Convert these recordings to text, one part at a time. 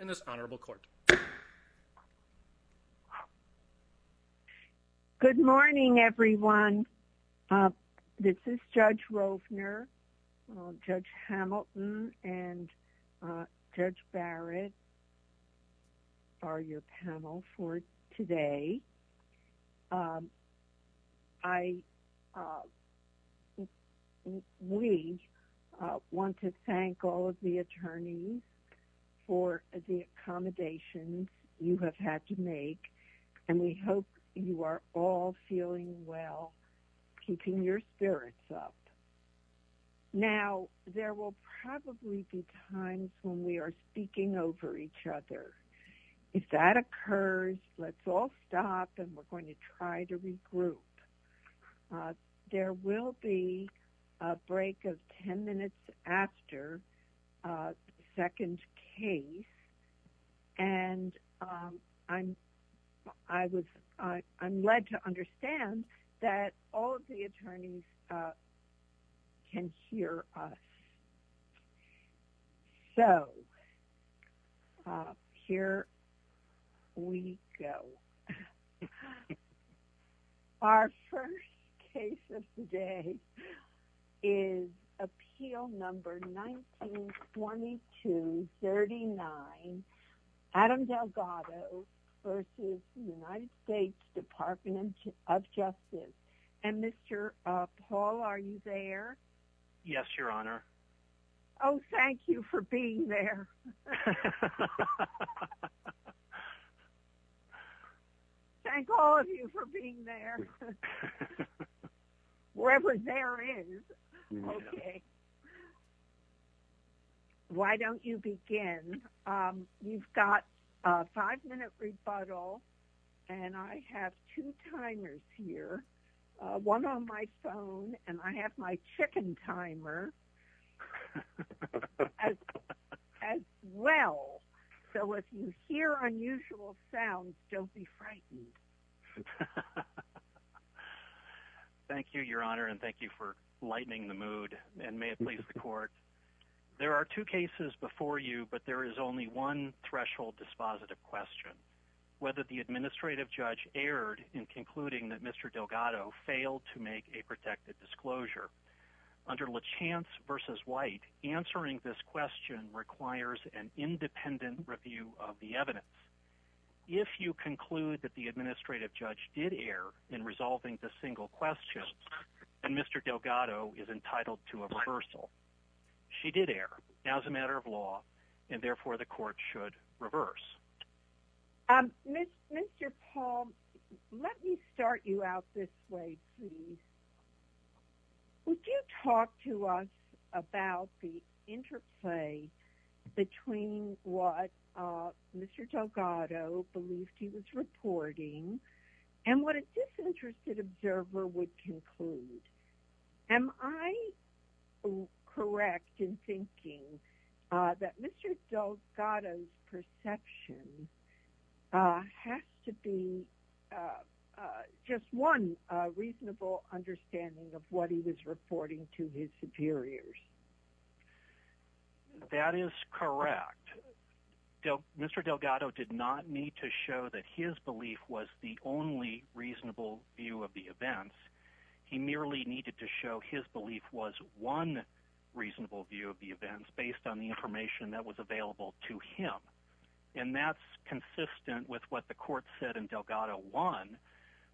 in this honorable court. Good morning everyone. This is Judge Rovner, Judge Hamilton and Judge Barrett are your panel for today. We want to thank all of the attorneys for the accommodations you have had to make and we hope you are all feeling well, keeping your spirits up. Now there will probably be times when we are speaking over each other. If that occurs, let's all stop and we're going to try to regroup. There will be a break of 10 minutes after the second case and I'm led to understand that all of the attorneys can hear us. So, here we go. Our first case of the day is Appeal Number 192239 Adam Paul, are you there? Yes, Your Honor. Oh, thank you for being there. Thank all of you for being there, wherever there is. Why don't you begin? You've got a five-minute rebuttal and I have two timers here, one on my phone and I have my chicken timer as well. So, if you hear unusual sounds, don't be frightened. Thank you, Your Honor and thank you for lightening the mood and may it please the court. There are two cases before you but there is only one threshold dispositive question, whether the administrative judge erred in concluding that Mr. Delgado failed to make a protected disclosure. Under Lachance v. White, answering this question requires an independent review of the evidence. If you conclude that the administrative judge did err in resolving the single question, then Mr. Delgado is entitled to a reversal. She did err as a matter of law and therefore the court should reverse. Mr. Paul, let me start you out this way, please. Would you talk to us about the interplay between what Mr. Delgado believed he was reporting and what a disinterested observer would believe? Mr. Delgado's perception has to be just one reasonable understanding of what he was reporting to his superiors. That is correct. Mr. Delgado did not need to show that his belief was the only reasonable view of the events. He merely needed to show his belief was one reasonable view of the events based on the information that was available to him. And that's consistent with what the court said in Delgado 1,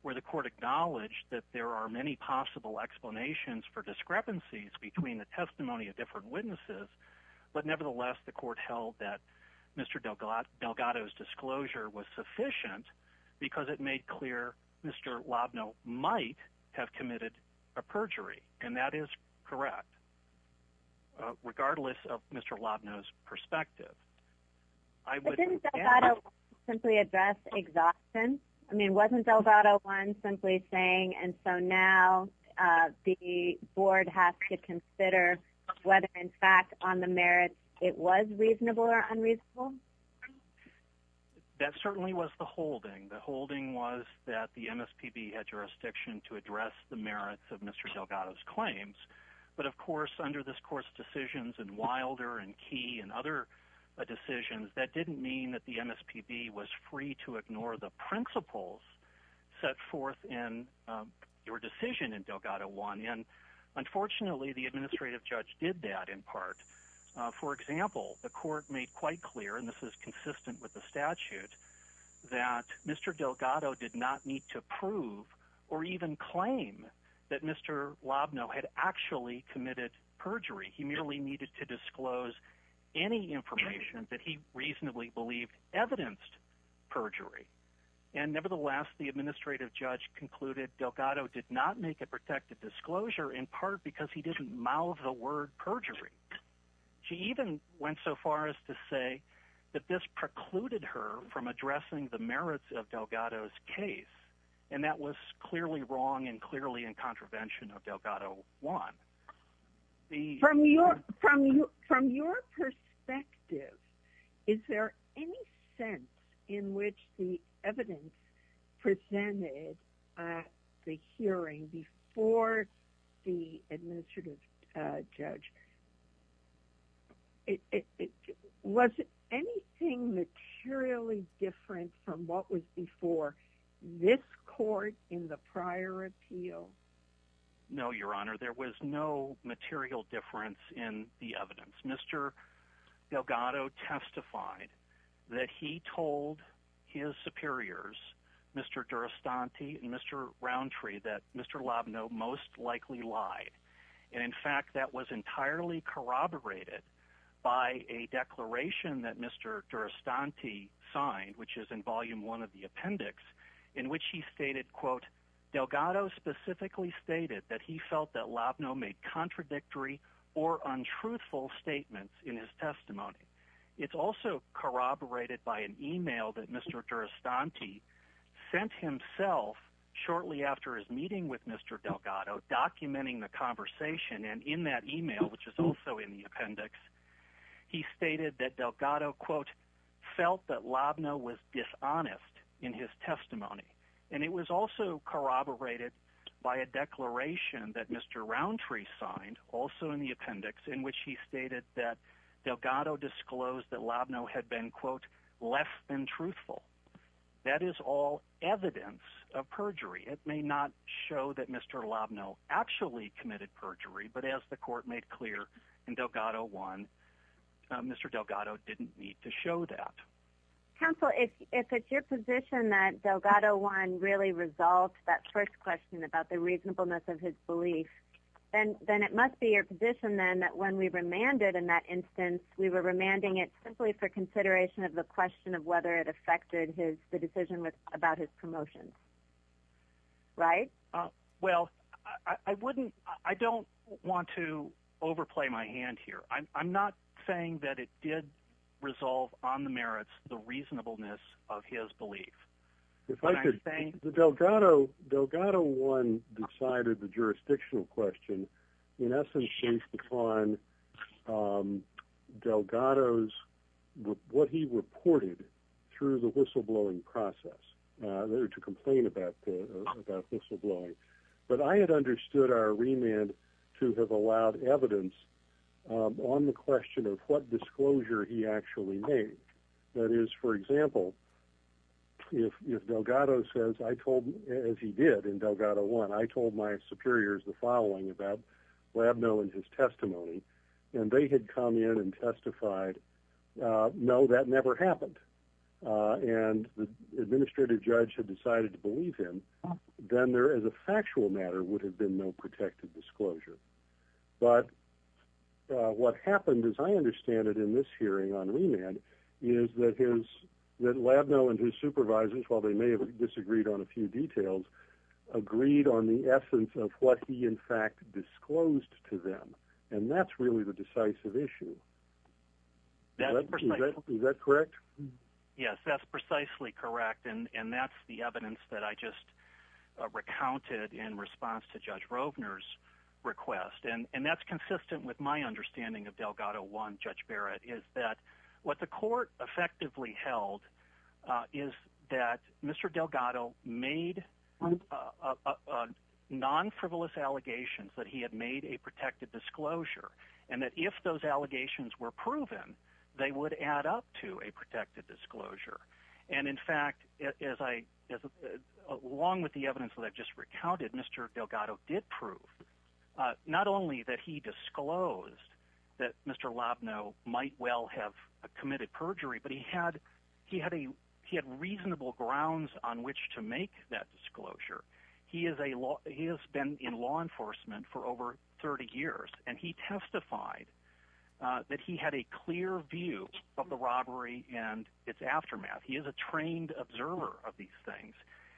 where the court acknowledged that there are many possible explanations for discrepancies between the testimony of different witnesses, but nevertheless the court held that Mr. Delgado's disclosure was sufficient because it made clear Mr. Lobno might have committed a perjury, and that is correct, regardless of Mr. Lobno's perspective. But didn't Delgado 1 simply address exhaustion? I mean, wasn't Delgado 1 simply saying, and so now the board has to consider whether in fact on the merits it was reasonable or unreasonable? That certainly was the holding was that the MSPB had jurisdiction to address the merits of Mr. Delgado's claims. But of course, under this court's decisions in Wilder and Key and other decisions, that didn't mean that the MSPB was free to ignore the principles set forth in your decision in Delgado 1. And unfortunately, the administrative judge did that in part. For example, the court made quite clear, and this is consistent with the statute, that Mr. Delgado did not need to prove or even claim that Mr. Lobno had actually committed perjury. He merely needed to disclose any information that he reasonably believed evidenced perjury. And nevertheless, the administrative judge concluded Delgado did not make a protected disclosure in part because he didn't mouth the word perjury. She even went so far as to say that this precluded her from addressing the merits of Delgado's case, and that was clearly wrong and clearly in contravention of Delgado 1. From your perspective, is there any sense in which the evidence presented at the hearing before the administrative judge, was anything materially different from what was before this court in the prior appeal? No, Your Honor. There was no material difference in the evidence. Mr. Delgado testified that he told his superiors, Mr. Durastanti and Mr. And in fact, that was entirely corroborated by a declaration that Mr. Durastanti signed, which is in volume one of the appendix, in which he stated, quote, Delgado specifically stated that he felt that Lobno made contradictory or untruthful statements in his testimony. It's also corroborated by an email that Mr. Durastanti sent himself shortly after his meeting with Mr. Delgado, documenting the conversation. And in that email, which is also in the appendix, he stated that Delgado, quote, felt that Lobno was dishonest in his testimony. And it was also corroborated by a declaration that Mr. Roundtree signed, also in the appendix, in which he stated that Delgado disclosed that Lobno had been, quote, less than truthful. That is all evidence of perjury. It may not show that Mr. Lobno actually committed perjury, but as the court made clear in Delgado one, Mr. Delgado didn't need to show that. Counsel, if it's your position that Delgado one really resolved that first question about the reasonableness of his belief, then it must be your position then that when we remanded in that instance, we were remanding it simply for consideration of the question of whether it affected the decision about his promotion. Right? Well, I wouldn't, I don't want to overplay my hand here. I'm not saying that it did resolve on the merits the reasonableness of his belief. If I could, Delgado one decided the jurisdictional question, in essence, based upon Delgado's, what he reported through the whistleblowing process, to complain about whistleblowing. But I had understood our remand to have allowed evidence on the question of what disclosure he actually made. That is, for example, if Delgado says, I told, as he did in Delgado one, I told my superiors the would have been no protected disclosure. But what happened, as I understand it in this hearing on remand, is that his, that Labneau and his supervisors, while they may have disagreed on a few details, agreed on the essence of what he in fact disclosed to them. And that's really the decisive issue. Is that correct? Yes, that's precisely correct. And that's the evidence that I just recounted in response to Judge Rovner's request. And that's consistent with my understanding of Delgado one, Judge Barrett, is that what the court effectively held is that Mr. Delgado made non-frivolous allegations that he had made a protected disclosure. And that if those allegations were proven, they would add up to a protected disclosure. And in fact, as I, along with the evidence that I've just recounted, Mr. Delgado did prove not only that he disclosed that Mr. Labneau might well have committed perjury, but he had a, he had reasonable grounds on which to make that disclosure. He is a law, he has been in law enforcement for over 30 years, and he testified that he had a clear view of the robbery and its aftermath. He is a trained observer of these things.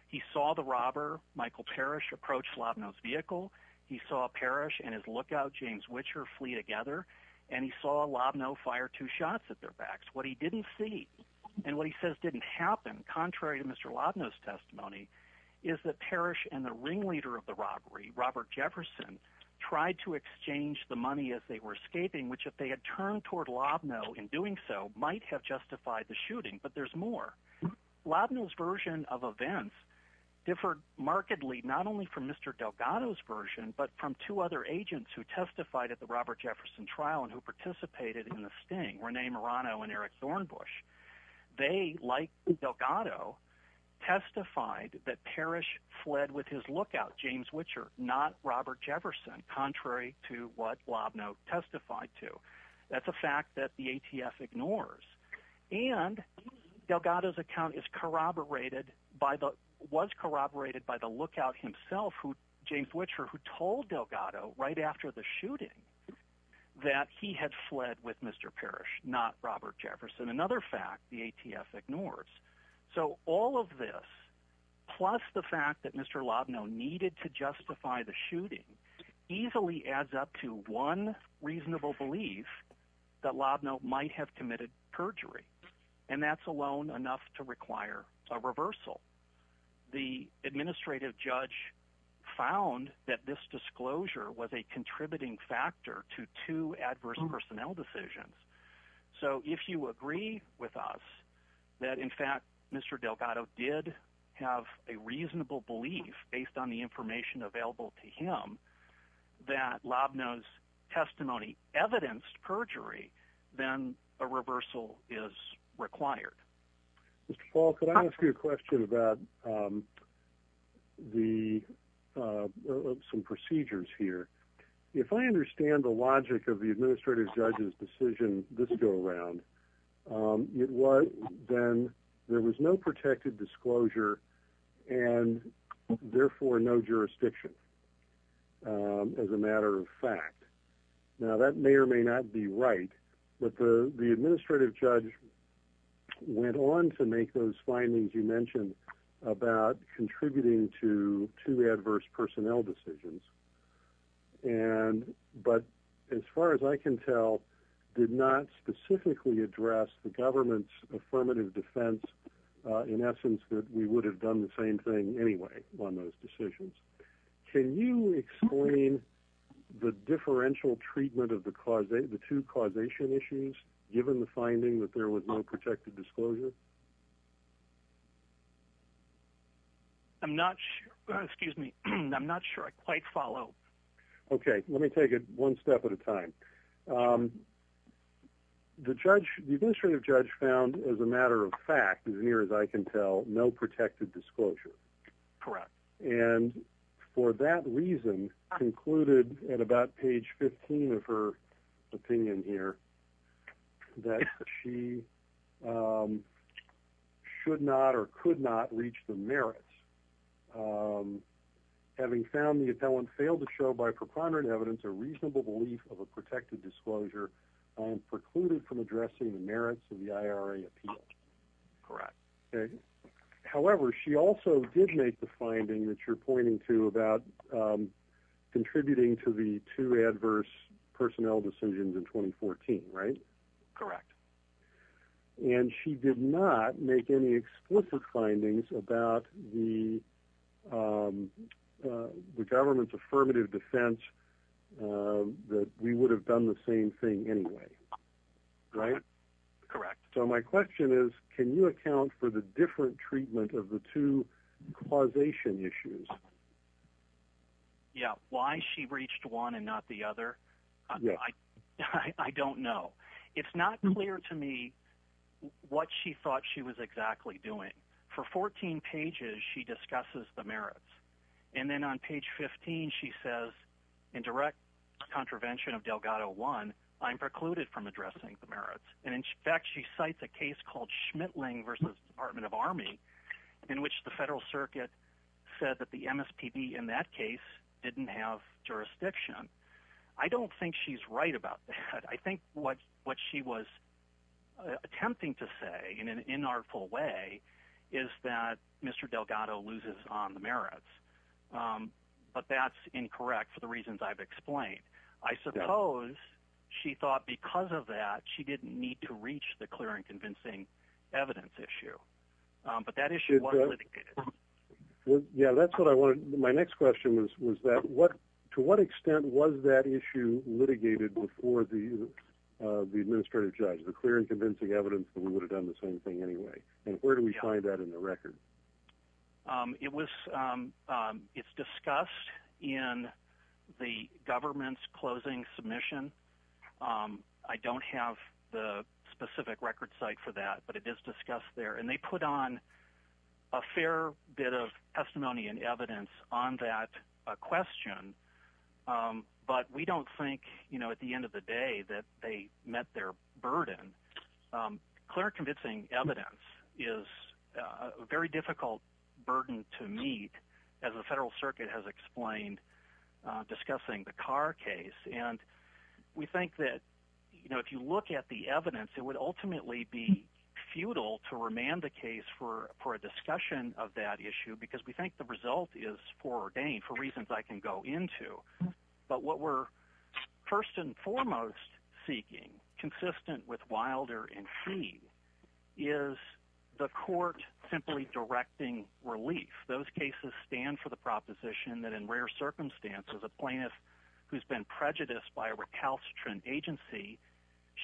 He saw the robber, Michael Parrish, approach Labneau's vehicle. He saw Parrish and his lookout, James Witcher, flee together. And he saw Labneau fire two shots at their backs. What he didn't see and what he says didn't happen, contrary to Mr. Labneau's testimony, is that Parrish and the ringleader of the robbery, Robert Jefferson, tried to exchange the money as they were escaping, which if they had turned toward Labneau in doing so, might have justified the shooting. But there's more. Labneau's version of events differed markedly not only from Mr. Delgado's version, but from two other agents who testified at the Robert Jefferson trial and who participated in the sting, Rene Marano and Eric Thornbush. They, like Delgado, testified that Parrish fled with his lookout, James Witcher, not Robert Jefferson, contrary to what Labneau testified to. That's a fact that the ATF ignores. And Delgado's account was corroborated by the lookout himself, James Witcher, who told Delgado right after the shooting that he had fled with Mr. Parrish, not Robert Jefferson, another fact the ATF ignores. So all of this, plus the fact that Mr. Labneau needed to justify the shooting, easily adds up to one reasonable belief that Labneau might have committed perjury. And that's alone enough to require a reversal. The administrative judge found that this disclosure was a contributing factor to two adverse personnel decisions. So if you agree with us that, in fact, Mr. Delgado did have a reasonable belief, based on the information available to him, that Labneau's testimony evidenced perjury, then a reversal is required. Mr. Paul, could I ask you a question about some procedures here? If I understand the logic of the administrative judge's decision this go-round, it was then there was no protected disclosure and therefore no jurisdiction, as a matter of fact. Now, that may or may not be right, but the administrative judge went on to make those findings you mentioned about contributing to two adverse personnel decisions, but as far as I can tell, did not specifically address the government's affirmative defense, in essence, that we would have done the same thing anyway on those decisions. Can you explain the differential treatment of the two causation issues, given the finding that there was no protected disclosure? I'm not sure. Excuse me. I'm not sure I quite follow. Okay, let me take it one step at a time. The judge, the administrative judge found, as a matter of fact, as near as I can tell, no protected disclosure. Correct. For that reason, concluded at about page 15 of her opinion here, that she should not or could not reach the merits, having found the appellant failed to show by proprietary evidence a reasonable belief of a protected disclosure, precluded from addressing the merits of the IRA appeal. Correct. However, she also did make the finding that you're pointing to about contributing to the two adverse personnel decisions in 2014, right? Correct. And she did not make any explicit findings about the government's affirmative defense that we would have done the same thing anyway, right? Correct. So my question is, can you account for the different treatment of the two causation issues? Yeah. Why she reached one and not the other, I don't know. It's not clear to me what she thought she was exactly doing. For 14 pages, she discusses the merits. And then on page 15, she says, in direct contravention of Delgado one, I'm precluded from addressing the merits. And in fact, she cites a case called Schmittling versus Department of Army, in which the federal circuit said that the MSPB in that case didn't have jurisdiction. I don't think she's right about that. I think what she was attempting to say in an inartful way is that Mr. Delgado loses on the merits. But that's incorrect for the reasons I've explained. I suppose she thought because of that, she didn't need to reach the clear and convincing evidence issue. But that issue was litigated. Yeah, that's what I wanted. My next question was, to what extent was that issue litigated before the administrative judge, the clear and convincing evidence that we would have done the same thing anyway? And where do we find that in the record? It's discussed in the government's closing submission. I don't have the specific record site for that. But it is discussed there. And they put on a fair bit of testimony and evidence on that question. But we don't think at the end of the day that they met their burden. Clear and convincing evidence is a very difficult burden to meet, as the federal circuit has explained, discussing the Carr case. And we think that if you look at the evidence, it would ultimately be futile to remand the case for a discussion of that issue because we think the result is foreordained for reasons I can go into. But what we're first and foremost seeking, consistent with Wilder and Fee, is the court simply directing relief. Those cases stand for the proposition that in rare circumstances, a plaintiff who's been prejudiced by a recalcitrant agency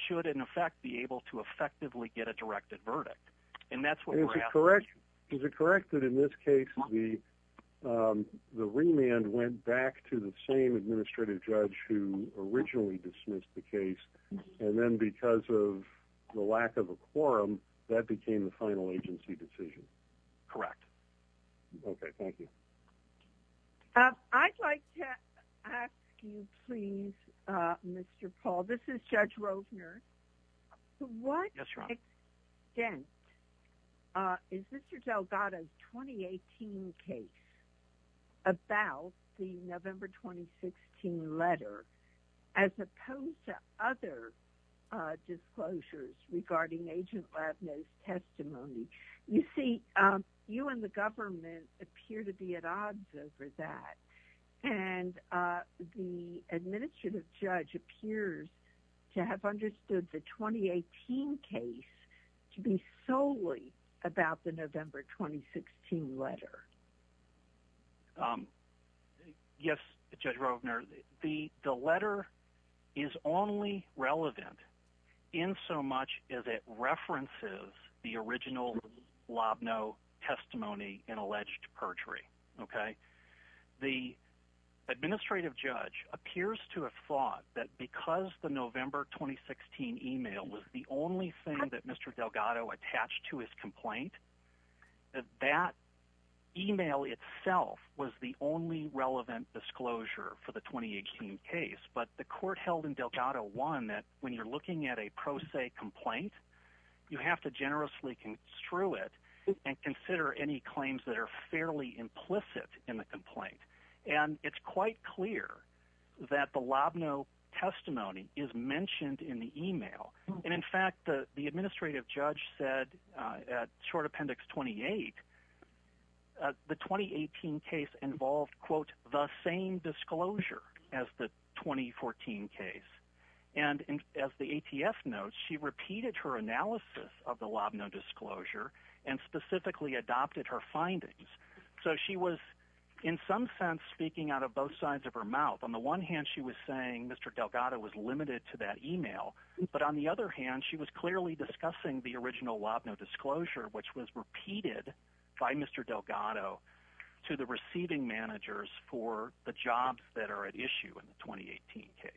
should, in effect, be able to effectively get a directed verdict. And that's what we're asking. Is it correct that in this case, the remand went back to the same administrative judge who originally dismissed the case, and then because of the lack of a quorum, that became the final agency decision? Correct. Okay, thank you. I'd like to ask you, please, Mr. Paul. This is Judge Rovner. To what extent is Mr. Delgado's 2018 case about the November 2016 letter, as opposed to other disclosures regarding Agent Labneau's testimony? You see, you and the government appear to be at odds over that, and the administrative judge appears to have understood the 2018 case to be solely about the November 2016 letter. Yes, Judge Rovner, the letter is only relevant in so much as it references the original Labneau testimony and alleged perjury. The administrative judge appears to have thought that because the November 2016 email was the only thing that Mr. Delgado attached to his complaint, that that email itself was the only relevant disclosure for the 2018 case. But the court held in Delgado 1 that when you're looking at a pro se complaint, you have to generously construe it and consider any claims that are fairly implicit in the complaint. And it's quite clear that the Labneau testimony is mentioned in the email. And in fact, the administrative judge said at short appendix 28, the 2018 case involved, quote, the same disclosure as the 2014 case. And as the ATF notes, she repeated her analysis of the Labneau disclosure and specifically adopted her findings. So she was, in some sense, speaking out of both sides of her mouth. On the one hand, she was saying Mr. Delgado was limited to that email. But on the other hand, she was clearly discussing the original Labneau disclosure, which was repeated by Mr. Delgado to the receiving managers for the jobs that are at issue in the 2018 case.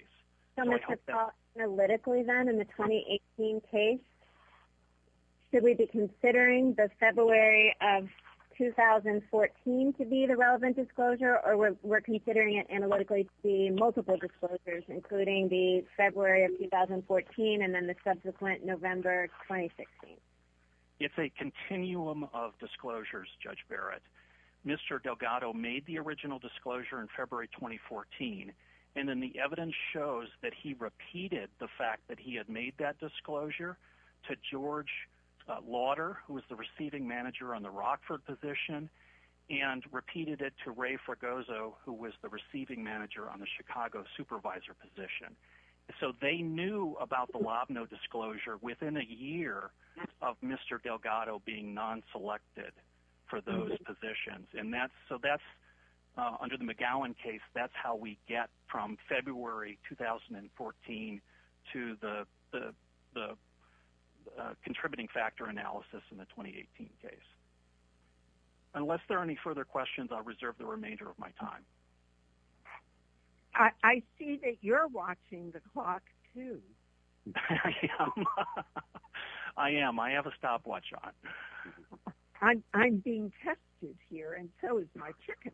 So Mr. Paul, analytically then, in the 2018 case, should we be considering the February of 2014 to be the relevant disclosure? Or we're considering it analytically to be multiple disclosures, including the February of 2014 and then the subsequent November 2016? It's a continuum of disclosures, Judge Barrett. Mr. Delgado made the original disclosure in February 2014. And then the evidence shows that he repeated the fact that he had made that disclosure to George Lauder, who was the receiving manager on the Rockford position, and repeated it to Ray Fragoso, who was the receiving manager on the Chicago supervisor position. So they knew about the Labneau disclosure within a year of Mr. Delgado being non-selected for those positions. So under the McGowan case, that's how we get from February 2014 to the contributing factor analysis in the 2018 case. Unless there are any further questions, I'll reserve the remainder of my time. I see that you're watching the clock, too. I am. I have a stopwatch on. I'm being tested here, and so is my chicken.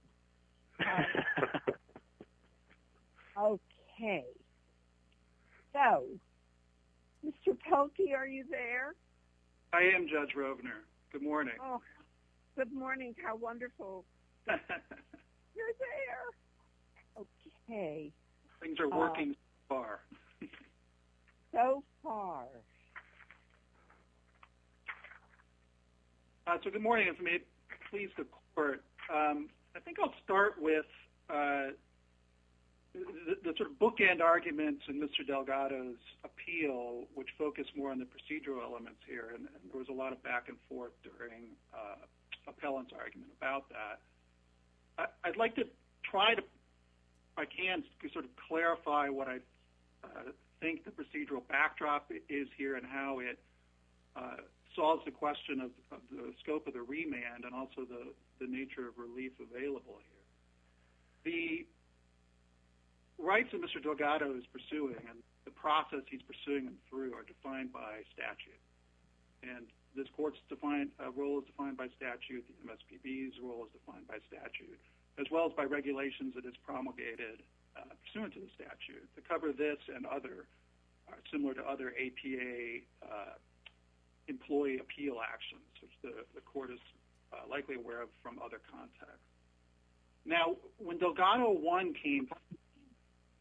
Okay. So, Mr. Polky, are you there? I am, Judge Rovner. Good morning. Good morning. How wonderful. You're there. Okay. Things are working so far. So far. So good morning. If it may please the Court, I think I'll start with the sort of bookend arguments in Mr. Delgado's appeal, which focus more on the procedural elements here. And there was a lot of back and forth during Appellant's argument about that. I'd like to try to, if I can, sort of clarify what I think the procedural backdrop is here and how it solves the question of the scope of the remand and also the nature of relief available here. The rights that Mr. Delgado is pursuing and the process he's pursuing them through are defined by statute. And this Court's role is defined by statute, the MSPB's role is defined by statute, as well as by regulations that it's promulgated pursuant to the statute. To cover this and other, similar to other APA employee appeal actions, which the Court is likely aware of from other contexts. Now, when Delgado 1 came,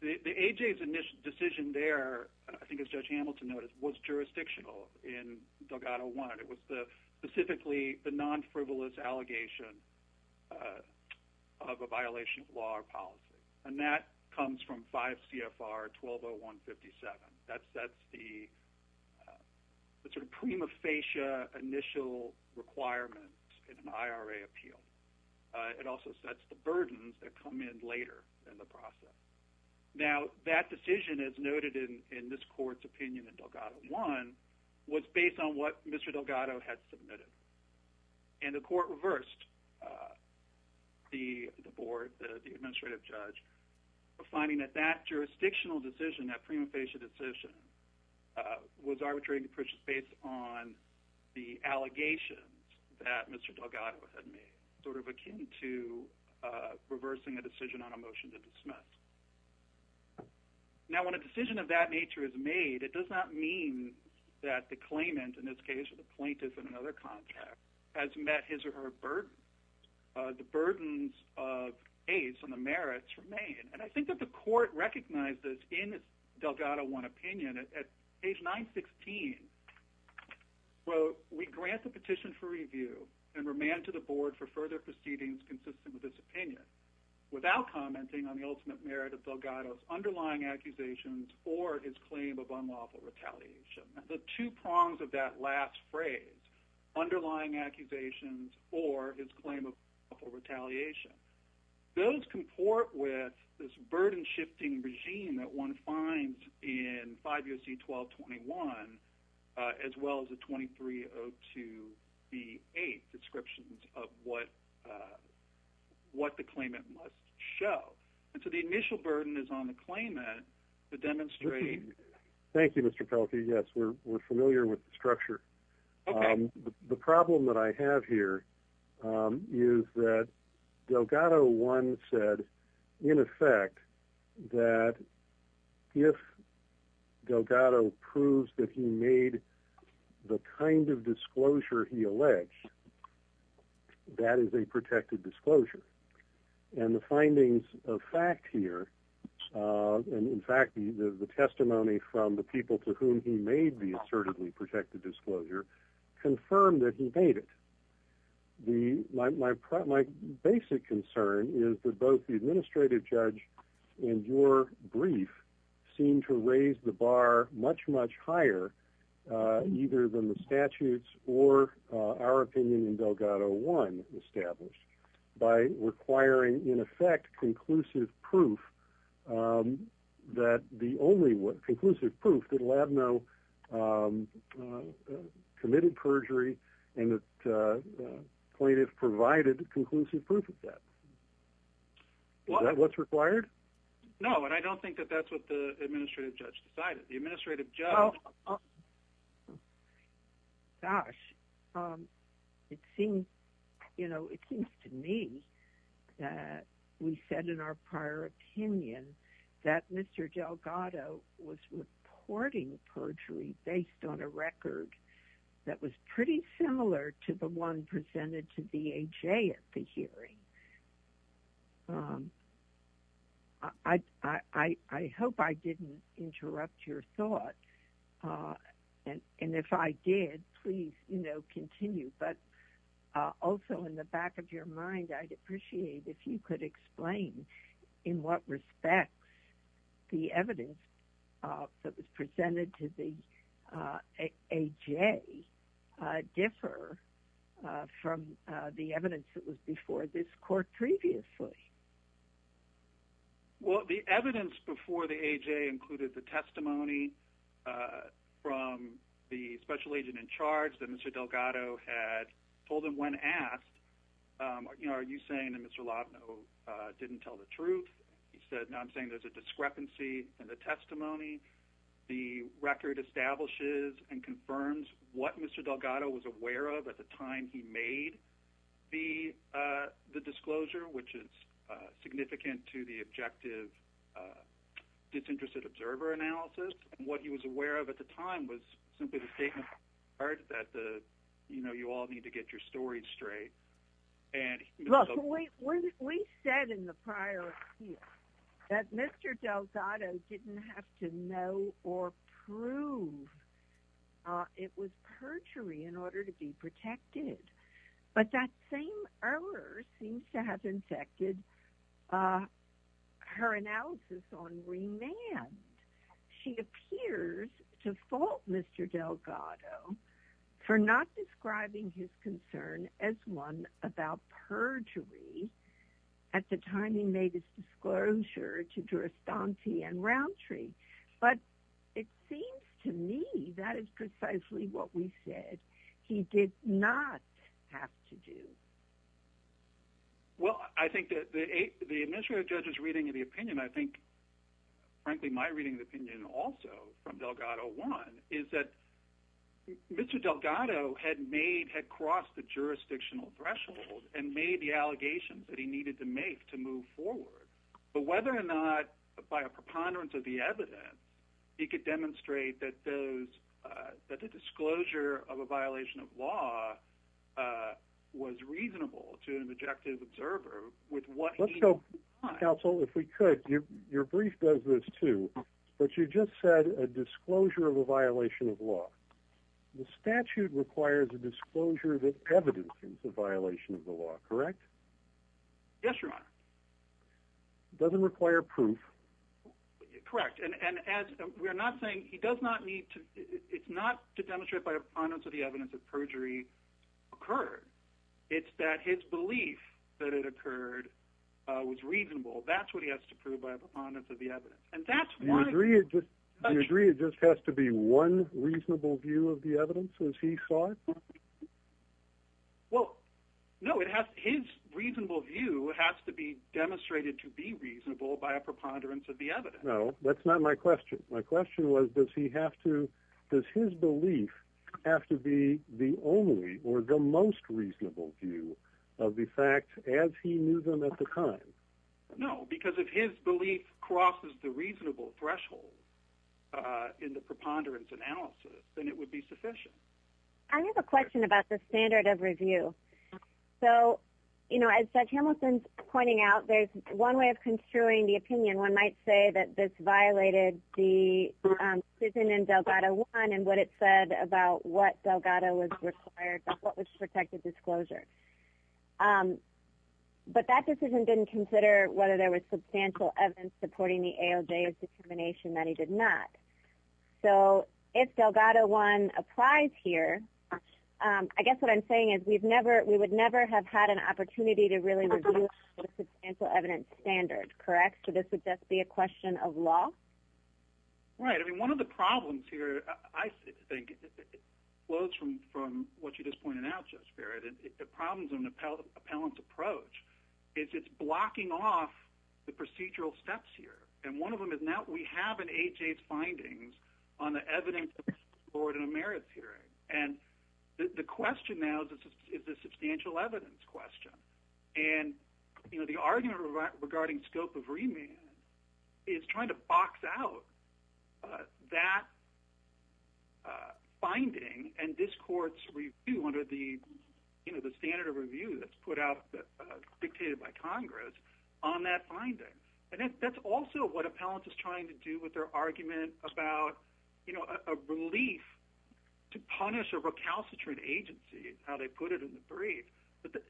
the AJA's initial decision there, I think as Judge Hamilton noted, was jurisdictional in Delgado 1. It was specifically the non-frivolous allegation of a violation of law or policy. And that comes from 5 CFR 120157. That sets the sort of prima facie initial requirement in an IRA appeal. It also sets the burdens that come in later in the process. Now, that decision, as noted in this Court's opinion in Delgado 1, was based on what Mr. Delgado had submitted. And the Court reversed the board, the administrative judge, finding that that jurisdictional decision, that prima facie decision, was arbitrated based on the allegations that Mr. Delgado had made. Sort of akin to reversing a decision on a motion to dismiss. Now, when a decision of that nature is made, it does not mean that the claimant, in this case the plaintiff in another contract, has met his or her burden. The burdens of AIDS and the merits remain. And I think that the Court recognized this in Delgado 1 opinion. At page 916, well, we grant the petition for review and remand to the board for further proceedings consistent with this opinion, without commenting on the ultimate merit of Delgado's underlying accusations or his claim of unlawful retaliation. The two prongs of that last phrase, underlying accusations or his claim of unlawful retaliation, those comport with this burden-shifting regime that one finds in 5 U.S.C. 1221, as well as the 2302b8 descriptions of what the claimant must show. And so the initial burden is on the claimant to demonstrate... Thank you, Mr. Pelkey. Yes, we're familiar with the structure. Okay. The problem that I have here is that Delgado 1 said, in effect, that if Delgado proves that he made the kind of disclosure he alleged, that is a protected disclosure. And the findings of fact here, and in fact, the testimony from the people to whom he made the assertively protected disclosure, confirmed that he made it. My basic concern is that both the administrative judge and your brief seem to raise the bar much, much higher, either than the statutes or our opinion in Delgado 1 established, by requiring, in effect, conclusive proof that Labnow committed perjury, and the plaintiff provided conclusive proof of that. Is that what's required? No, and I don't think that that's what the administrative judge decided. Well, gosh, it seems to me that we said in our prior opinion that Mr. Delgado was reporting perjury based on a record that was pretty similar to the one presented to BAJ at the hearing. I hope I didn't interrupt your thought, and if I did, please, you know, continue. But also, in the back of your mind, I'd appreciate if you could explain in what respects the evidence that was presented to the AJ differ from the evidence that was before this court previously. Well, the evidence before the AJ included the testimony from the special agent in charge that Mr. Delgado had told him when asked, you know, are you saying that Mr. Labnow didn't tell the truth? He said, no, I'm saying there's a discrepancy in the testimony. The record establishes and confirms what Mr. Delgado was aware of at the time he made the disclosure, which is significant to the objective disinterested observer analysis, and what he was aware of at the time was simply the statement that, you know, you all need to get your stories straight. Look, we said in the prior appeal that Mr. Delgado didn't have to know or prove it was perjury in order to be protected, but that same error seems to have infected her analysis on remand. She appears to fault Mr. Delgado for not describing his concern as one about perjury at the time he made his disclosure to Durastanti and Rountree, but it seems to me that is precisely what we said he did not have to do. Well, I think that the administrative judge's reading of the opinion, I think, frankly, my reading of the opinion also from Delgado one is that Mr. Delgado had made, had crossed the jurisdictional threshold and made the allegations that he needed to make to move forward. But whether or not by a preponderance of the evidence, he could demonstrate that the disclosure of a violation of law was reasonable to an objective observer with what he saw. Counsel, if we could, your brief does this too, but you just said a disclosure of a violation of law. The statute requires a disclosure that evidences a violation of the law, correct? Yes, Your Honor. It doesn't require proof. Correct. And we're not saying he does not need to. It's not to demonstrate by a preponderance of the evidence that perjury occurred. It's that his belief that it occurred was reasonable. That's what he has to prove by a preponderance of the evidence. And that's why. Do you agree it just has to be one reasonable view of the evidence as he saw it? Well, no, it has his reasonable view. It has to be demonstrated to be reasonable by a preponderance of the evidence. No, that's not my question. My question was, does he have to, does his belief have to be the only or the most reasonable view of the fact as he knew them at the time? No, because if his belief crosses the reasonable threshold in the preponderance analysis, then it would be sufficient. I have a question about the standard of review. So, you know, as Judge Hamilton's pointing out, there's one way of construing the opinion. One might say that this violated the decision in Delgado 1 and what it said about what Delgado was required, what was protected disclosure. But that decision didn't consider whether there was substantial evidence supporting the AOJ's determination that he did not. So if Delgado 1 applies here, I guess what I'm saying is we would never have had an opportunity to really review a substantial evidence standard. Correct? So this would just be a question of law? Right. I mean, one of the problems here, I think, flows from what you just pointed out, Judge Barrett. The problem is an appellant's approach. It's blocking off the procedural steps here. And one of them is now we have an AOJ's findings on the evidence in a merits hearing. And the question now is a substantial evidence question. And, you know, the argument regarding scope of remand is trying to box out that finding and this court's review under the standard of review that's put out, dictated by Congress, on that finding. And that's also what appellants are trying to do with their argument about, you know, a relief to punish a recalcitrant agency is how they put it in the brief. But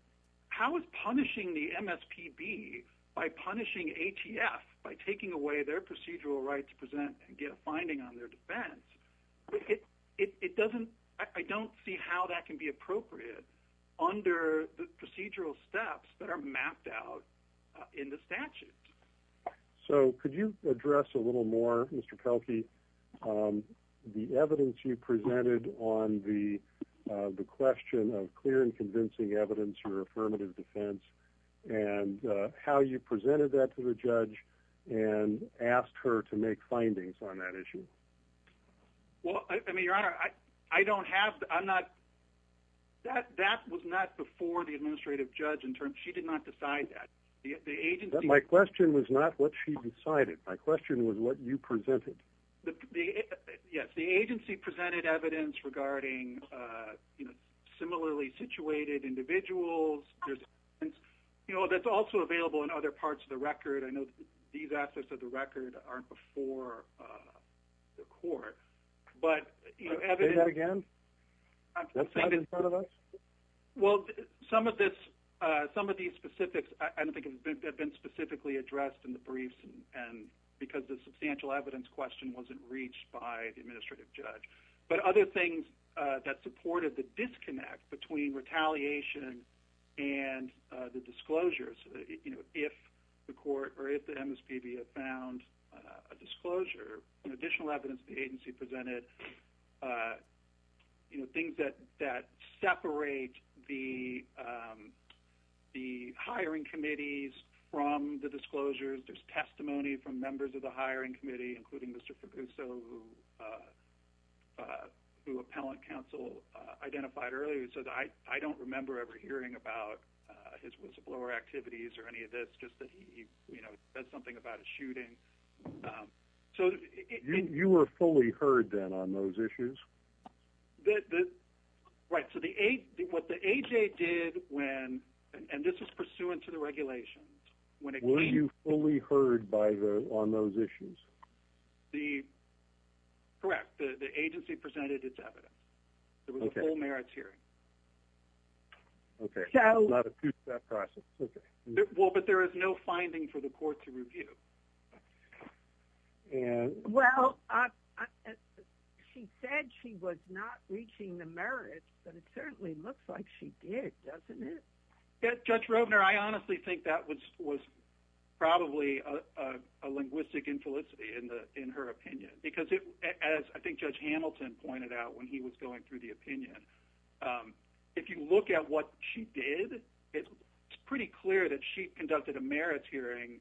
how is punishing the MSPB by punishing ATF by taking away their procedural right to present and get a finding on their defense? It doesn't – I don't see how that can be appropriate under the procedural steps that are mapped out in the statute. So could you address a little more, Mr. Pelkey, the evidence you presented on the question of clear and convincing evidence for affirmative defense and how you presented that to the judge and asked her to make findings on that issue? Well, I mean, Your Honor, I don't have – I'm not – that was not before the administrative judge in terms – she did not decide that. The agency – But my question was not what she decided. My question was what you presented. The – yes, the agency presented evidence regarding, you know, similarly situated individuals. There's evidence, you know, that's also available in other parts of the record. I know these aspects of the record aren't before the court. But, you know, evidence – Say that again? I'm saying that – That's not in front of us? Well, some of this – some of these specifics I don't think have been specifically addressed in the briefs and – because the substantial evidence question wasn't reached by the administrative judge. But other things that supported the disconnect between retaliation and the disclosures, you know, if the court or if the MSPB had found a disclosure, additional evidence the agency presented, you know, things that separate the hiring committees from the disclosures. There's testimony from members of the hiring committee, including Mr. Fabuso, who appellant counsel identified earlier. He said, I don't remember ever hearing about his whistleblower activities or any of this, just that he, you know, said something about a shooting. So – You were fully heard then on those issues? Right. So the – what the AJ did when – and this is pursuant to the regulations – Were you fully heard by the – on those issues? The – correct. The agency presented its evidence. Okay. It was a full merits hearing. Okay. So – Not a two-step process. Okay. Well, but there is no finding for the court to review. Well, she said she was not reaching the merits, but it certainly looks like she did, doesn't it? Judge Robner, I honestly think that was probably a linguistic infelicity in her opinion, because it – as I think Judge Hamilton pointed out when he was going through the opinion, if you look at what she did, it's pretty clear that she conducted a merits hearing,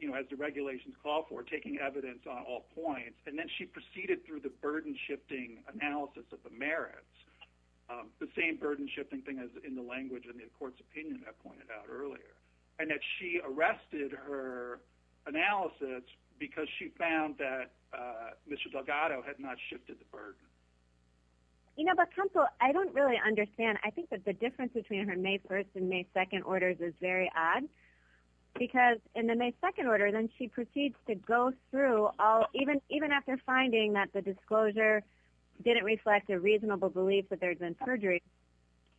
you know, as the regulations call for, taking evidence on all points, and then she proceeded through the burden-shifting analysis of the merits, the same burden-shifting thing as in the language in the court's opinion I pointed out earlier, and that she arrested her analysis because she found that Mr. Delgado had not shifted the burden. You know, but, Counsel, I don't really understand. I think that the difference between her May 1st and May 2nd orders is very odd, because in the May 2nd order, then she proceeds to go through all – even after finding that the disclosure didn't reflect a reasonable belief that there had been perjury,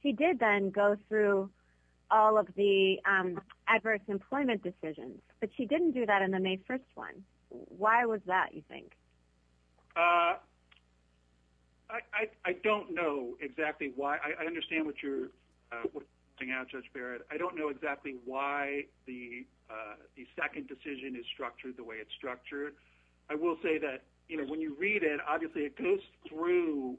she did then go through all of the adverse employment decisions, but she didn't do that in the May 1st one. Why was that, you think? I don't know exactly why. I understand what you're pointing out, Judge Barrett. I don't know exactly why the second decision is structured the way it's structured. I will say that, you know, when you read it, obviously it goes through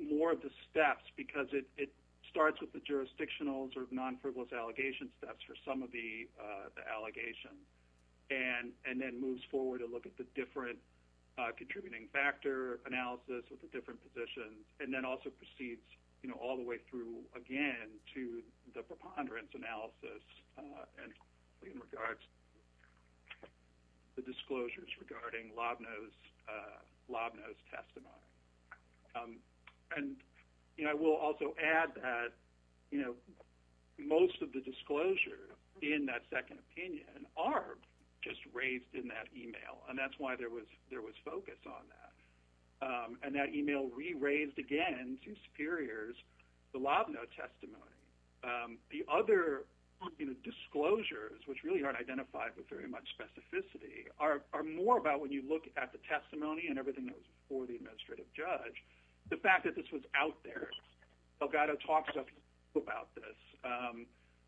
more of the steps, because it starts with the jurisdictional sort of non-frivolous allegation steps for some of the allegations, and then moves forward to look at the different contributing factor analysis with the different positions, and then also proceeds, you know, all the way through again to the preponderance analysis in regards to the disclosures regarding Lobno's testimony. And, you know, I will also add that, you know, most of the disclosure in that second opinion are just raised in that email, and that's why there was focus on that. And that email re-raised again to superiors the Lobno testimony. The other, you know, disclosures, which really aren't identified with very much specificity, are more about when you look at the testimony and everything that was before the administrative judge, the fact that this was out there. Delgado talks to us about this.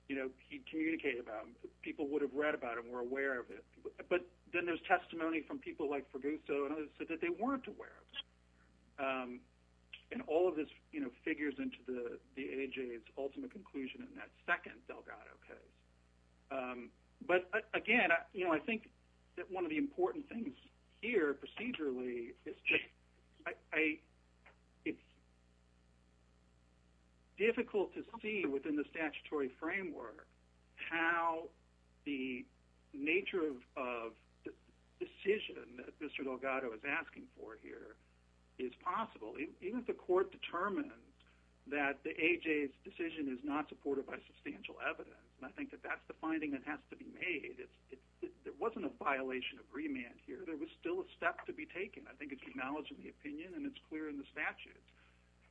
You know, he communicated about it. People would have read about it and were aware of it. But then there's testimony from people like Fraguso and others that said they weren't aware of it. And all of this, you know, figures into the AHA's ultimate conclusion in that second Delgado case. But again, you know, I think that one of the important things here procedurally is difficult to see within the statutory framework how the nature of the decision that Mr. Delgado is asking for here is possible. Even if the court determined that the AHA's decision is not supported by substantial evidence, and I think that that's the finding that has to be made, there wasn't a violation of remand here. There was still a step to be taken. I think it's acknowledged in the opinion and it's clear in the statute.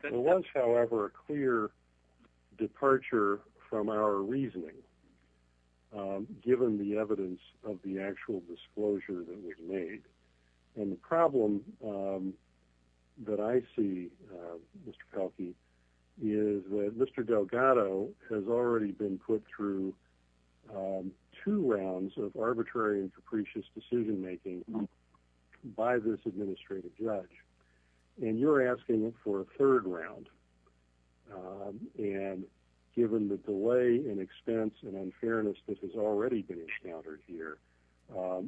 There was, however, a clear departure from our reasoning, given the evidence of the actual disclosure that was made. And the problem that I see, Mr. Pelkey, is that Mr. Delgado has already been put through two rounds of arbitrary and capricious decision-making by this administrative judge. And you're asking for a third round. And given the delay and expense and unfairness that has already been encountered here,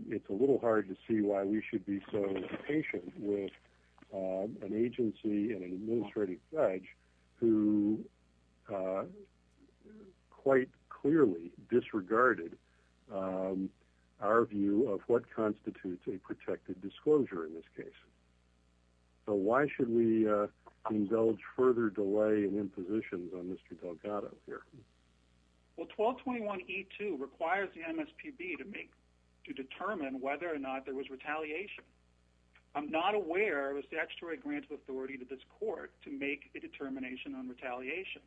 it's a little hard to see why we should be so impatient with an agency and an administrative judge who quite clearly disregarded our view of what constitutes a protected disclosure in this case. So why should we indulge further delay and impositions on Mr. Delgado here? Well, 1221E2 requires the MSPB to determine whether or not there was retaliation. I'm not aware of a statutory grant of authority to this court to make a determination on retaliation.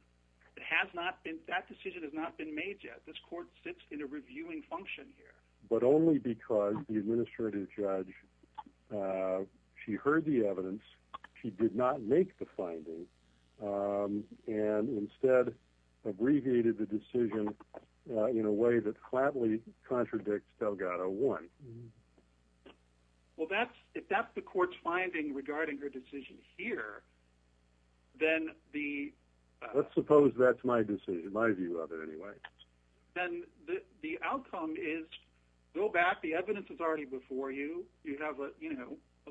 That decision has not been made yet. This court sits in a reviewing function here. But only because the administrative judge, she heard the evidence, she did not make the finding, and instead abbreviated the decision in a way that flatly contradicts Delgado 1. Well, if that's the court's finding regarding her decision here, then the... Let's suppose that's my decision, my view of it, anyway. Then the outcome is, go back, the evidence is already before you, you have a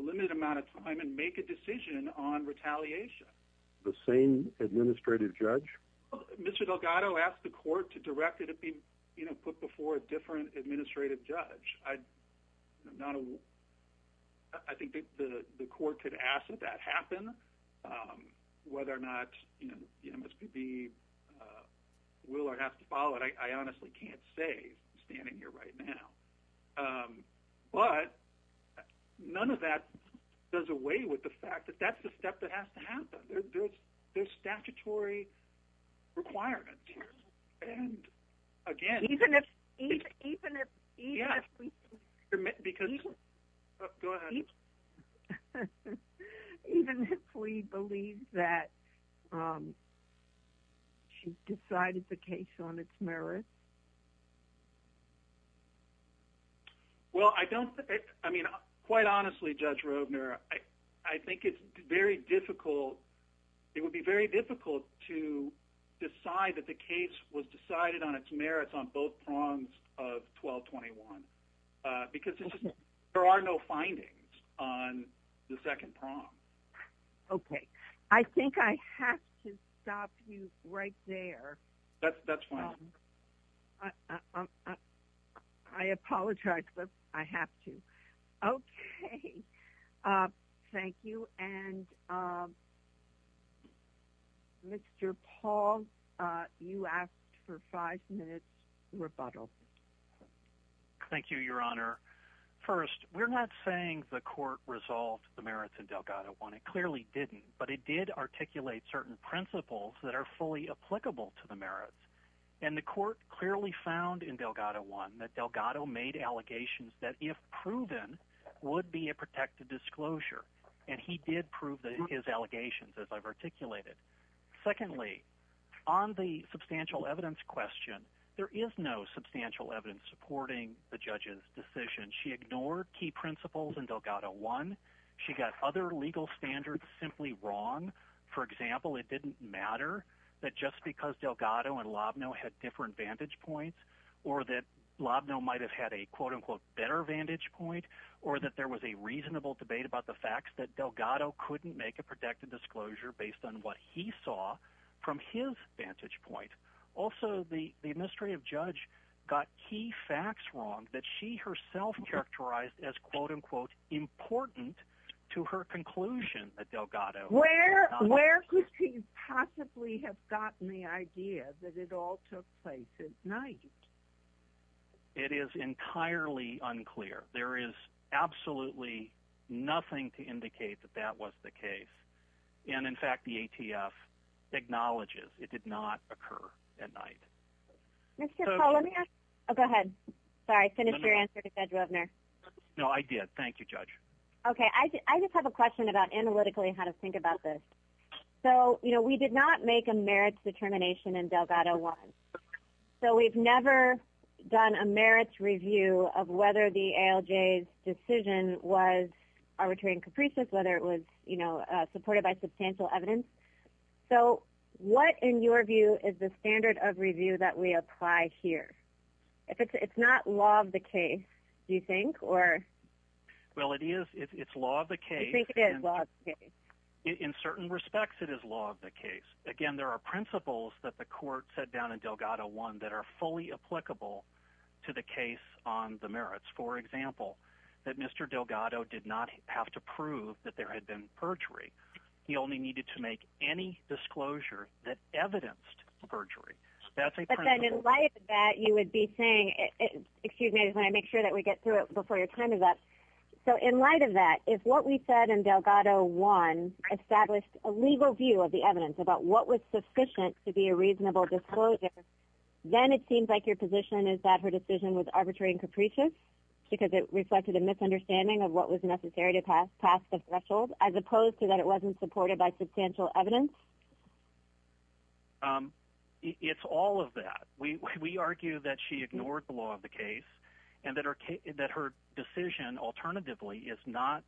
limited amount of time, and make a decision on retaliation. The same administrative judge? Mr. Delgado asked the court to direct it to be put before a different administrative judge. I think the court could ask that that happen. Whether or not the MSPB will or has to follow it, I honestly can't say standing here right now. But none of that does away with the fact that that's the step that has to happen. There's statutory requirements here. Even if we believe that she's decided the case on its merits? Well, I don't... I mean, quite honestly, Judge Roebner, I think it's very difficult... It would be very difficult to decide that the case was decided on its merits on both prongs of 1221. Because there are no findings on the second prong. Okay. I think I have to stop you right there. That's fine. I apologize, but I have to. Okay. Thank you. And Mr. Paul, you asked for five minutes rebuttal. Thank you, Your Honor. First, we're not saying the court resolved the merits in Delgado I. It clearly didn't. But it did articulate certain principles that are fully applicable to the merits. And the court clearly found in Delgado I that Delgado made allegations that, if proven, would be a protected disclosure. And he did prove his allegations, as I've articulated. Secondly, on the substantial evidence question, there is no substantial evidence supporting the judge's decision. She ignored key principles in Delgado I. She got other legal standards simply wrong. For example, it didn't matter that just because Delgado and Lobno had different vantage points, or that Lobno might have had a, quote-unquote, better vantage point, or that there was a reasonable debate about the facts that Delgado couldn't make a protected disclosure based on what he saw from his vantage point. Also, the Ministry of Judge got key facts wrong that she herself characterized as, quote-unquote, important to her conclusion at Delgado. Where could she possibly have gotten the idea that it all took place at night? It is entirely unclear. There is absolutely nothing to indicate that that was the case. And, in fact, the ATF acknowledges it did not occur at night. Mr. Poe, let me ask you. Oh, go ahead. Sorry, I finished your answer to Judge Wovner. No, I did. Thank you, Judge. Okay. I just have a question about analytically how to think about this. So, you know, we did not make a merits determination in Delgado I. So we've never done a merits review of whether the ALJ's decision was arbitrary and capricious, whether it was, you know, supported by substantial evidence. So what, in your view, is the standard of review that we apply here? It's not law of the case, do you think? Well, it is. It's law of the case. I think it is law of the case. In certain respects, it is law of the case. Again, there are principles that the court set down in Delgado I that are fully applicable to the case on the merits. For example, that Mr. Delgado did not have to prove that there had been perjury. He only needed to make any disclosure that evidenced perjury. That's a principle. But then in light of that, you would be saying – excuse me, I just want to make sure that we get through it before your time is up. So in light of that, if what we said in Delgado I established a legal view of the evidence about what was sufficient to be a reasonable disclosure, then it seems like your position is that her decision was arbitrary and capricious because it reflected a misunderstanding of what was necessary to pass the threshold, as opposed to that it wasn't supported by substantial evidence? It's all of that. We argue that she ignored the law of the case and that her decision alternatively is not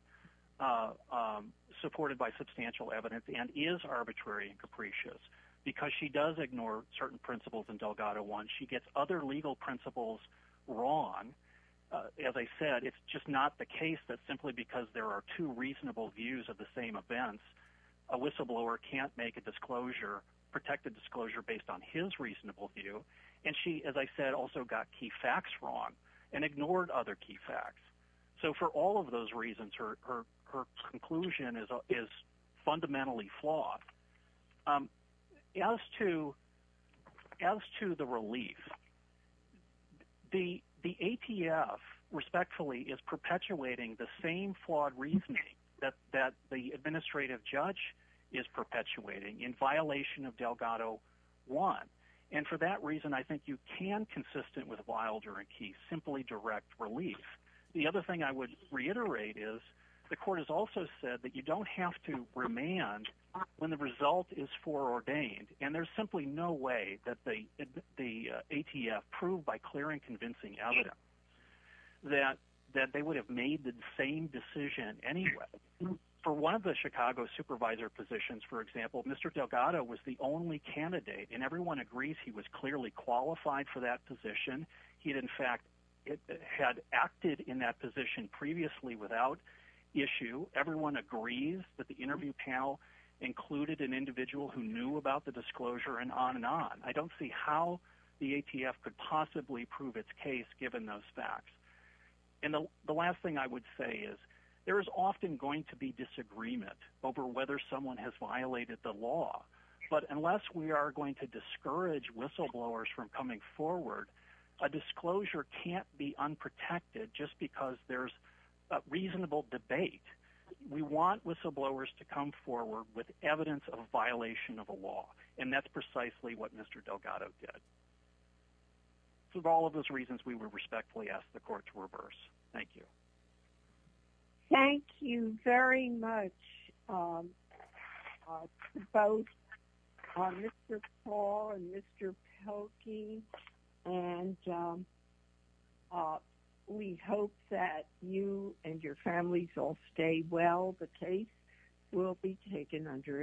supported by substantial evidence and is arbitrary and capricious because she does ignore certain principles in Delgado I. She gets other legal principles wrong. As I said, it's just not the case that simply because there are two reasonable views of the same event, a whistleblower can't make a disclosure, protect a disclosure based on his reasonable view. And she, as I said, also got key facts wrong and ignored other key facts. So for all of those reasons, her conclusion is fundamentally flawed. As to the relief, the ATF respectfully is perpetuating the same flawed reasoning that the administrative judge is perpetuating in violation of Delgado I. And for that reason, I think you can, consistent with Wilder and Keith, simply direct relief. The other thing I would reiterate is the court has also said that you don't have to remand when the result is foreordained. And there's simply no way that the ATF proved by clear and convincing evidence that they would have made the same decision anyway. For one of the Chicago supervisor positions, for example, Mr. Delgado was the only candidate, and everyone agrees he was clearly qualified for that position. He, in fact, had acted in that position previously without issue. Everyone agrees that the interview panel included an individual who knew about the disclosure and on and on. I don't see how the ATF could possibly prove its case given those facts. And the last thing I would say is there is often going to be disagreement over whether someone has violated the law. But unless we are going to discourage whistleblowers from coming forward, a disclosure can't be unprotected just because there's reasonable debate. We want whistleblowers to come forward with evidence of a violation of a law, and that's precisely what Mr. Delgado did. For all of those reasons, we would respectfully ask the court to reverse. Thank you. Thank you very much to both Mr. Paul and Mr. Pelkey. And we hope that you and your families all stay well. The case will be taken under advisement. Thank you.